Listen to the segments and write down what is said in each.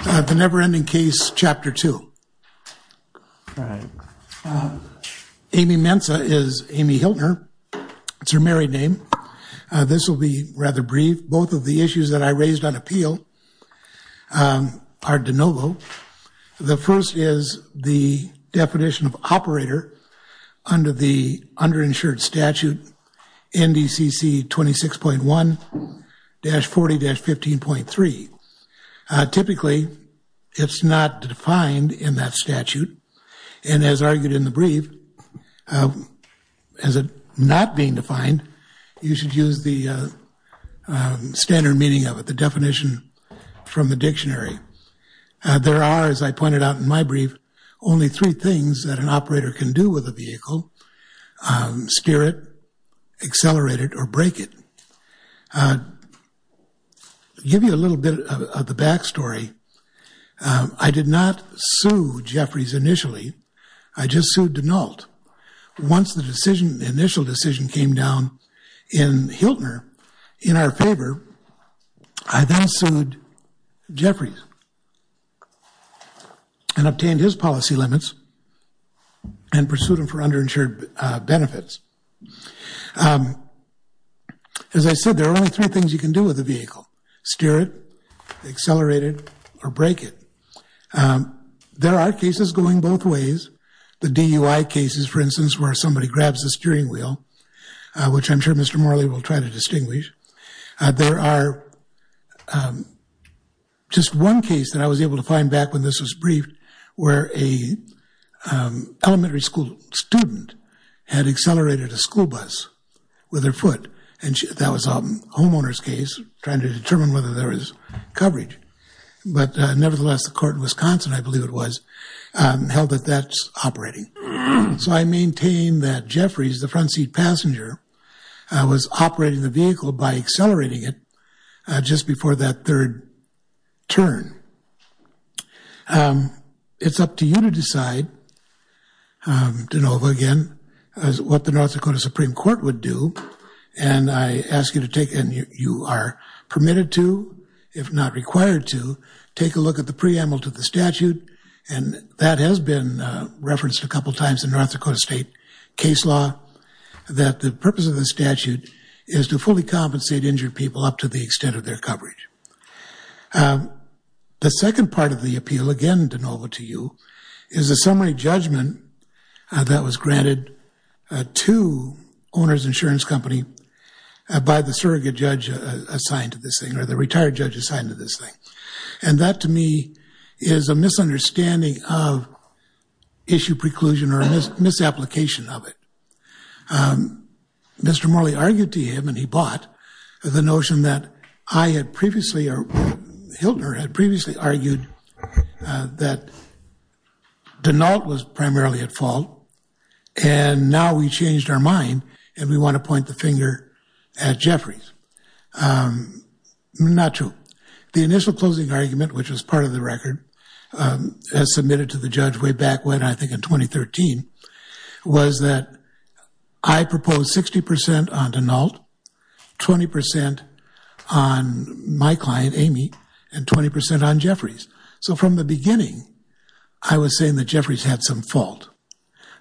The Never Ending Case Chapter 2. Amy Mensah is Amy Hiltner. It's her married name. This will be rather brief. Both of the issues that I raised on appeal are de novo. The first is the definition of operator under the underinsured statute NDCC 26.1-40-15.3. Typically, it's not defined in that statute, and as argued in the brief, as it not being defined, you should use the standard meaning of it, the definition from the dictionary. There are, as I pointed out in my brief, only three things that an operator can do with a vehicle. Steer it, accelerate it, or brake it. I'll give you a little bit of the back story. I did not sue Jeffries initially. I just sued Denault. Once the decision, the initial decision came down in Hiltner in our favor, I then sued Jeffries and obtained his policy limits and pursued him for underinsured benefits. As I said, there are only three things you can do with a vehicle. Steer it, accelerate it, or brake it. There are cases going both ways. The DUI cases, for instance, where somebody grabs the steering wheel, which I'm sure Mr. Morley will try to distinguish. There are just one case that I was able to find back when this was briefed where a elementary school student had accelerated a school bus with her foot, and that was a homeowner's case trying to determine whether there was that's operating. So I maintain that Jeffries, the front seat passenger, was operating the vehicle by accelerating it just before that third turn. It's up to you to decide, Denova, again, what the North Dakota Supreme Court would do, and I ask you to take, and you are permitted to, if not required to, take a look at the preamble to the statute, and that has been referenced a couple times in North Dakota state case law, that the purpose of the statute is to fully compensate injured people up to the extent of their coverage. The second part of the appeal, again, Denova, to you, is a summary judgment that was granted to Owner's Insurance Company by the surrogate judge assigned to this thing, or the retired judge assigned to this thing, and that, to me, is a misunderstanding of issue preclusion or misapplication of it. Mr. Morley argued to him, and he bought, the notion that I had previously, or Hiltner had previously argued, that Denault was primarily at fault, and now we changed our mind, and we want to point the finger at Jeffries. Not true. The initial closing argument, which was part of the record, as submitted to the judge way back when, I think in 2013, was that I proposed 60% on Denault, 20% on my client, Amy, and 20% on Jeffries. So from the beginning, I was saying that Jeffries had some fault.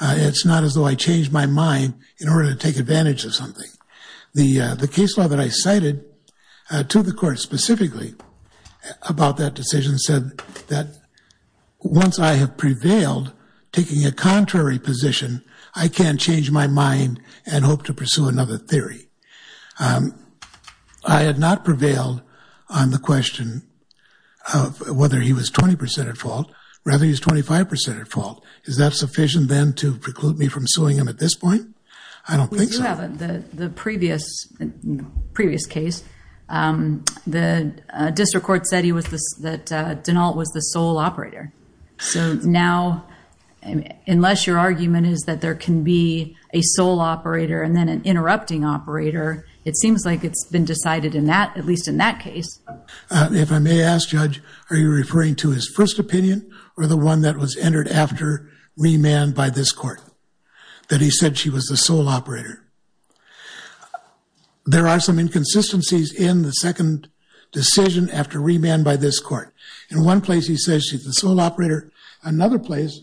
It's not as though I changed my mind in order to take advantage of something. The case law that I cited to the court specifically about that decision said that once I have prevailed, taking a contrary position, I can change my mind and hope to pursue another theory. I had not prevailed on the question of whether he was 20% at fault, rather he was 25% at fault. Is that sufficient then to preclude me from suing him at this point? I don't think so. We do have the previous case. The district court said that Denault was the sole operator. So now, unless your argument is that there can be a sole operator and then an interrupting operator, it seems like it's been decided in that, at least in that case. If I may ask, Judge, are you referring to his first opinion, or the one that was entered after remand by this court, that he said she was the sole operator? There are some inconsistencies in the second decision after remand by this court. In one place, he says she's the sole operator. Another place,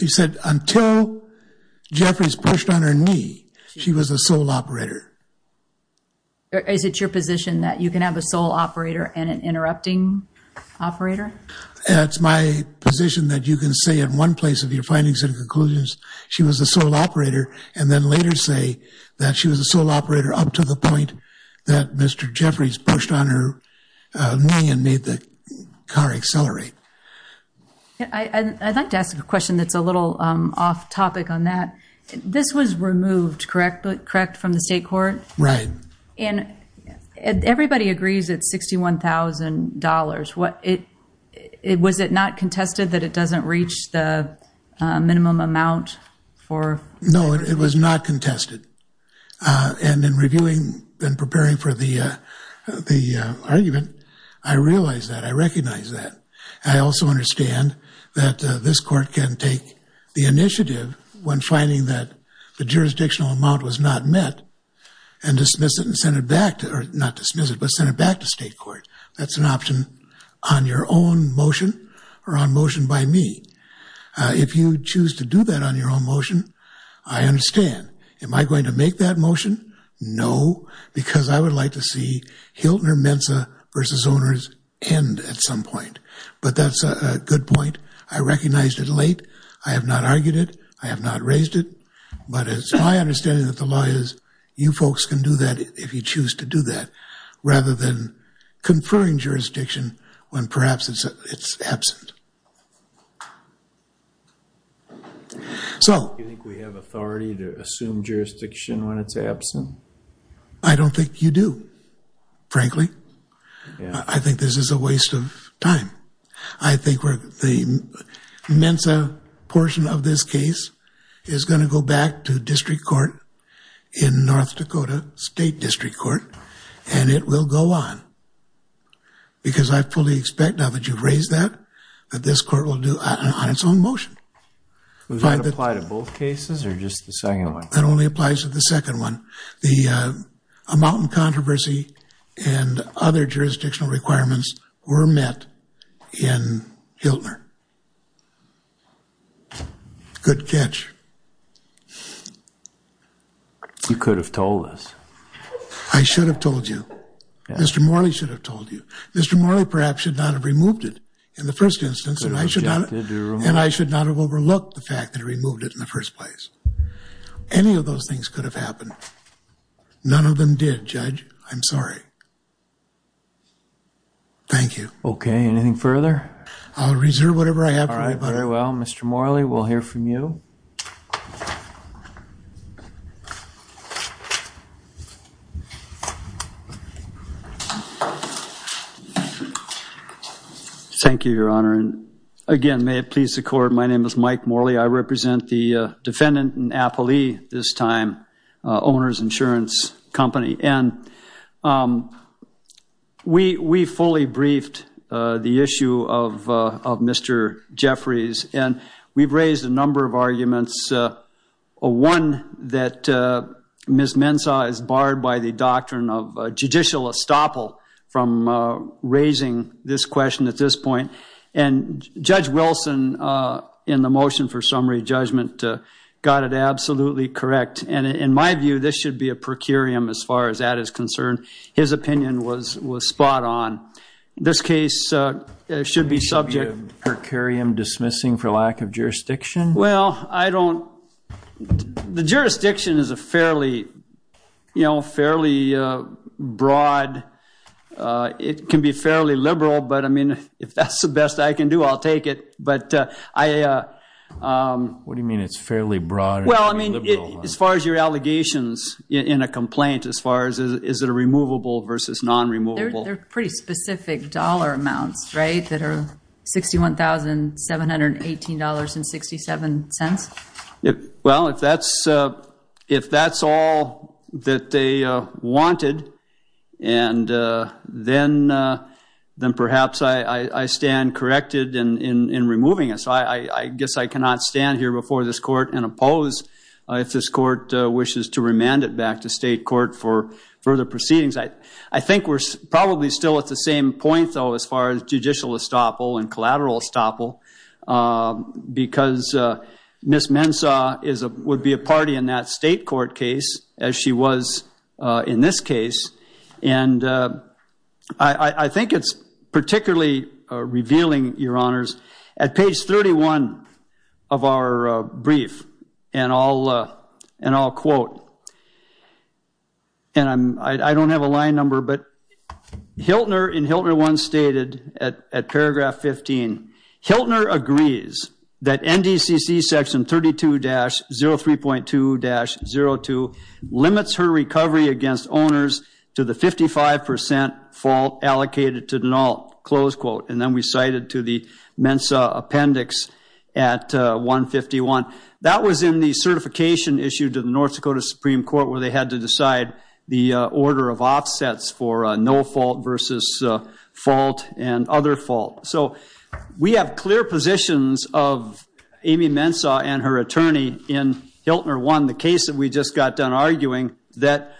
he said until Jeffries pushed on her knee, she was a sole operator. Is it your position that you can have a sole operator and an interrupting operator? It's my position that you can say in one place of your findings and conclusions, she was a sole operator, and then later say that she was a sole operator up to the point that Mr. Jeffries pushed on her knee and made the car accelerate. I'd like to ask a question that's a little off topic on that. This was removed, correct, from the state court? Right. And everybody agrees it's $61,000. Was it not contested that it doesn't reach the minimum amount for- No, it was not contested. And in reviewing and preparing for the argument, I realize that. I recognize that. I also understand that this court can take the initiative when finding that the jurisdictional amount was not met and dismiss it and send it back to or not dismiss it, but send it back to state court. That's an option on your own motion or on motion by me. If you choose to do that on your own motion, I understand. Am I going to make that motion? No, because I would like to see Hiltner Mensa versus owners end at some point. But that's a good point. I recognized it late. I have not argued it. I have not raised it. But it's my understanding that the law is, you folks can do that if you choose to do that, rather than conferring jurisdiction when perhaps it's absent. Do you think we have authority to assume jurisdiction when it's absent? I don't think you do, frankly. I think this is a waste of time. I think the Mensa portion of this case is going to go back to district court in North Dakota State District Court and it will go on. Because I fully expect now that you've raised that, that this court will do on its own motion. Does that apply to both cases or just the second one? That only applies to the second one. The amount and controversy and other jurisdictional requirements were met in Hiltner. Good catch. You could have told us. I should have told you. Mr. Morley should have told you. Mr. Morley perhaps should not have removed it in the first instance and I should not have overlooked the fact that he removed it in the first place. Any of those things could have happened. None of them did, Judge. I'm sorry. Thank you. Okay. Anything further? I'll reserve whatever I have for my brother. All right. Very well. Mr. Morley, we'll hear from you. Thank you, Your Honor. And again, may it please the court, my name is Mike Morley. I represent the defendant in Applee this time, owner's insurance company. And we fully briefed the issue of Mr. Jeffries and we've raised a number of arguments. One that Ms. Mensah is barred by the doctrine of judicial estoppel from raising this question at this point. And Judge got it absolutely correct. And in my view, this should be a per curiam as far as that is concerned. His opinion was spot on. This case should be subject. Per curiam dismissing for lack of jurisdiction? Well, I don't, the jurisdiction is a fairly, you know, fairly broad, it can be fairly liberal, but I mean, if that's the best I can do, I'll take it. But I... What do you mean? It's fairly broad? Well, I mean, as far as your allegations in a complaint, as far as is it a removable versus non-removable? They're pretty specific dollar amounts, right? That are $61,718.67. Well, if that's all that they wanted, and then perhaps I stand corrected in removing it. So I guess I cannot stand here before this court and oppose if this court wishes to remand it back to state court for further proceedings. I think we're probably still at the same point though, as far as judicial estoppel and collateral estoppel, because Ms. Mensah would be a party in that state court case as she was in this case. And I think page 31 of our brief, and I'll quote, and I don't have a line number, but Hiltner in Hiltner 1 stated at paragraph 15, Hiltner agrees that NDCC section 32-03.2-02 limits her recovery against owners to the 55% fault allocated to denault, close quote. And then we cited to the Mensah appendix at 151. That was in the certification issue to the North Dakota Supreme Court where they had to decide the order of offsets for no fault versus fault and other fault. So we have clear positions of Amy Mensah and her attorney in Hiltner 1, the case that we just got done arguing, that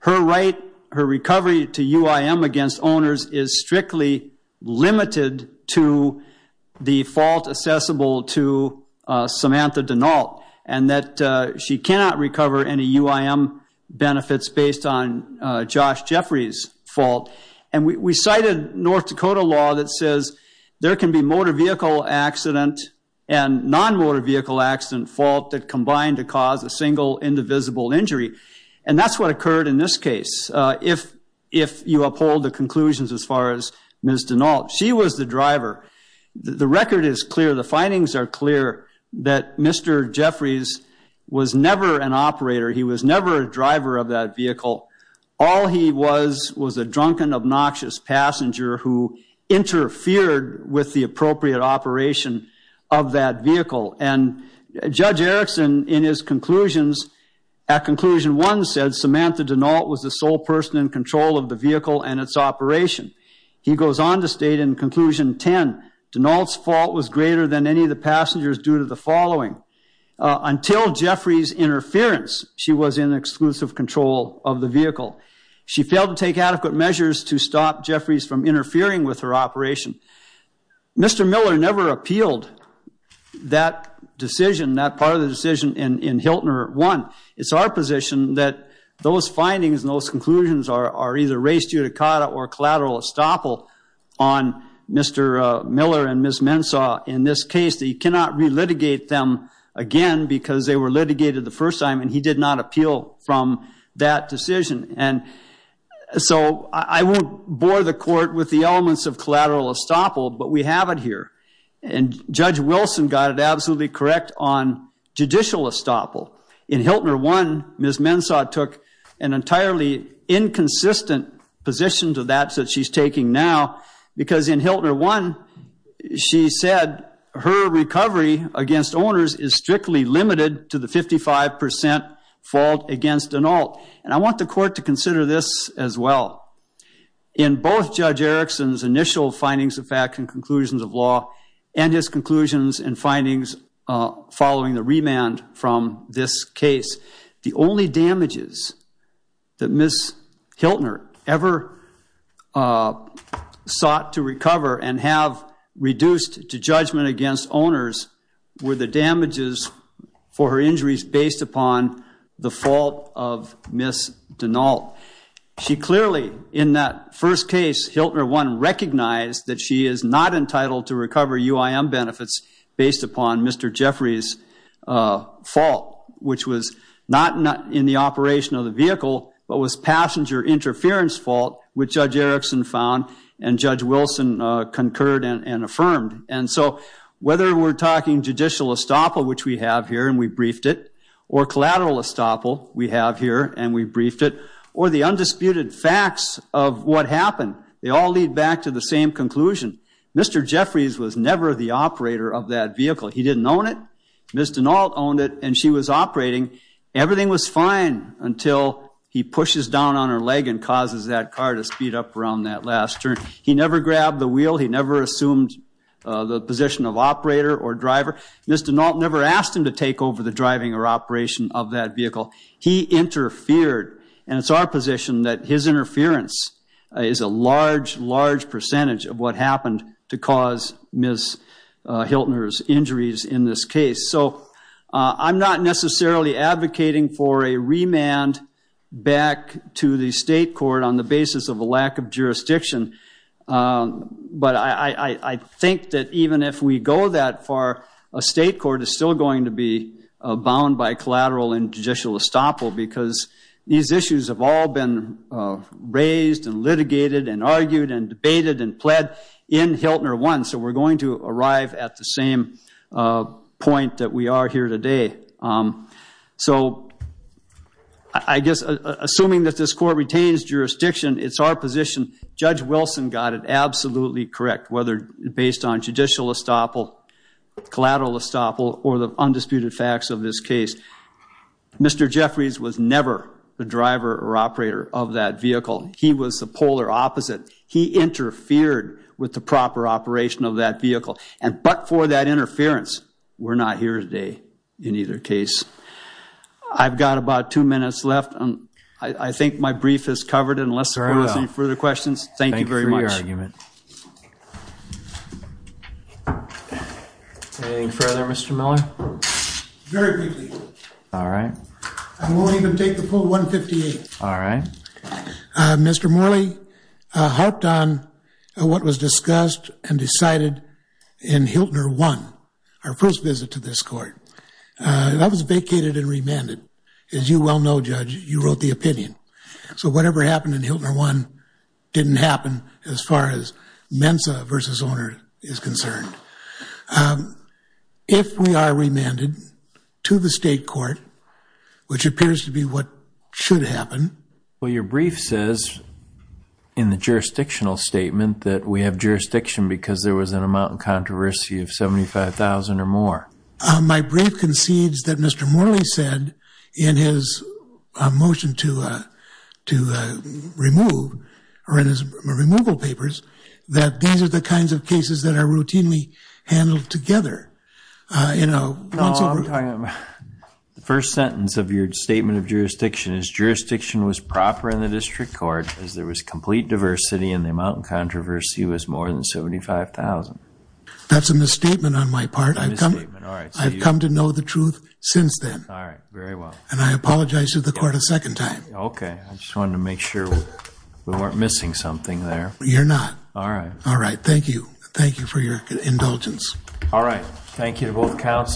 her right, her recovery to UIM against owners is strictly limited to the fault assessable to Samantha denault, and that she cannot recover any UIM benefits based on Josh Jeffrey's fault. And we cited North Dakota law that says there can be motor vehicle accident and non-motor vehicle accident fault that combine to cause a single indivisible injury. And that's what occurred in this case. If you uphold the conclusions as far as Ms. Denault, she was the driver. The record is clear. The findings are clear that Mr. Jeffries was never an operator. He was never a driver of that vehicle. All he was was a drunken, obnoxious passenger who interfered with the appropriate operation of that vehicle. And Judge Erickson, in his conclusions, at conclusion one said Samantha Denault was the sole person in control of the vehicle and its operation. He goes on to state in conclusion 10, Denault's fault was greater than any of the passengers due to the following. Until Jeffries' interference, she was in exclusive control of the vehicle. She failed to take adequate measures to stop Jeffries from interfering with her operation. Mr. Miller never appealed that decision, that part of the decision in Hiltner 1. It's our position that those findings and those conclusions are either raised judicata or collateral estoppel on Mr. Miller and Ms. Mensah. In this case, they cannot relitigate them again because they were litigated the first time and he did not appeal from that decision. And so I won't bore the court with the elements of collateral estoppel, but we have it here. And Judge Wilson got it absolutely correct on judicial estoppel. In Hiltner 1, Ms. Mensah took an entirely inconsistent position to that that she's taking now because in Hiltner 1, she said her recovery against owners is strictly limited to the 55% fault against an alt. And I want the court to consider this as well. In both Judge Erickson's initial findings of fact and conclusions of law and his conclusions and findings following the remand from this case, the only damages that Ms. Hiltner ever sought to recover and have reduced to judgment against owners were the damages for her injuries based upon the fault of Ms. Denault. She clearly, in that first case, Hiltner 1, recognized that she is not entitled to recover UIM benefits based upon Mr. Jeffrey's fault, which was not in the operation of the vehicle, but was passenger interference fault, which Judge Erickson found and Judge Wilson concurred and affirmed. And so whether we're talking judicial estoppel, which we have here and we briefed it, or collateral estoppel, we have here and we briefed it, or the undisputed facts of what happened, they all lead back to the same conclusion. Mr. Jeffrey's was never the operator of that vehicle. He didn't own it. Ms. Denault owned it and she was operating. Everything was fine until he pushes down on her leg and causes that car to speed up around that last turn. He never grabbed the wheel. He never assumed the position of operator or driver. Ms. Denault never asked him to take over the driving or operation of that vehicle. He interfered and it's our position that his interference is a large, large percentage of what happened to cause Ms. Hiltner's injuries in this case. So I'm not necessarily advocating for a remand back to the state court on the basis of a jurisdiction. But I think that even if we go that far, a state court is still going to be bound by collateral and judicial estoppel because these issues have all been raised and litigated and argued and debated and pled in Hiltner 1. So we're going to arrive at the same point that we are here today. So I guess assuming that this court retains jurisdiction, it's our position. Judge Wilson got it absolutely correct whether based on judicial estoppel, collateral estoppel, or the undisputed facts of this case. Mr. Jeffries was never the driver or operator of that vehicle. He was the polar opposite. He interfered with the proper operation of that vehicle. But for that interference, we're not here today in either case. I've heard enough. Any further questions? Thank you very much. Thank you for your argument. Anything further, Mr. Miller? Very briefly. All right. I won't even take the poll 158. All right. Mr. Morley harped on what was discussed and decided in Hiltner 1, our first visit to this court. That was vacated and remanded. As you well know, Judge, you wrote the opinion. So whatever happened in Hiltner 1 didn't happen as far as Mensa versus owner is concerned. If we are remanded to the state court, which appears to be what should happen. Well, your brief says in the jurisdictional statement that we have jurisdiction because there was an amount of controversy of $75,000 or more. My brief concedes that Mr. Morley said in his motion to remove or in his removal papers that these are the kinds of cases that are routinely handled together. The first sentence of your statement of jurisdiction is jurisdiction was proper in the district court as there was complete diversity and the amount of controversy was more than $75,000. That's a misstatement on my part. I've come to know the truth since then. All right. Very well. And I apologize to the court a second time. Okay. I just wanted to make sure we weren't missing something there. You're not. All right. All right. Thank you. Thank you for your indulgence. All right. Thank you to both counsel.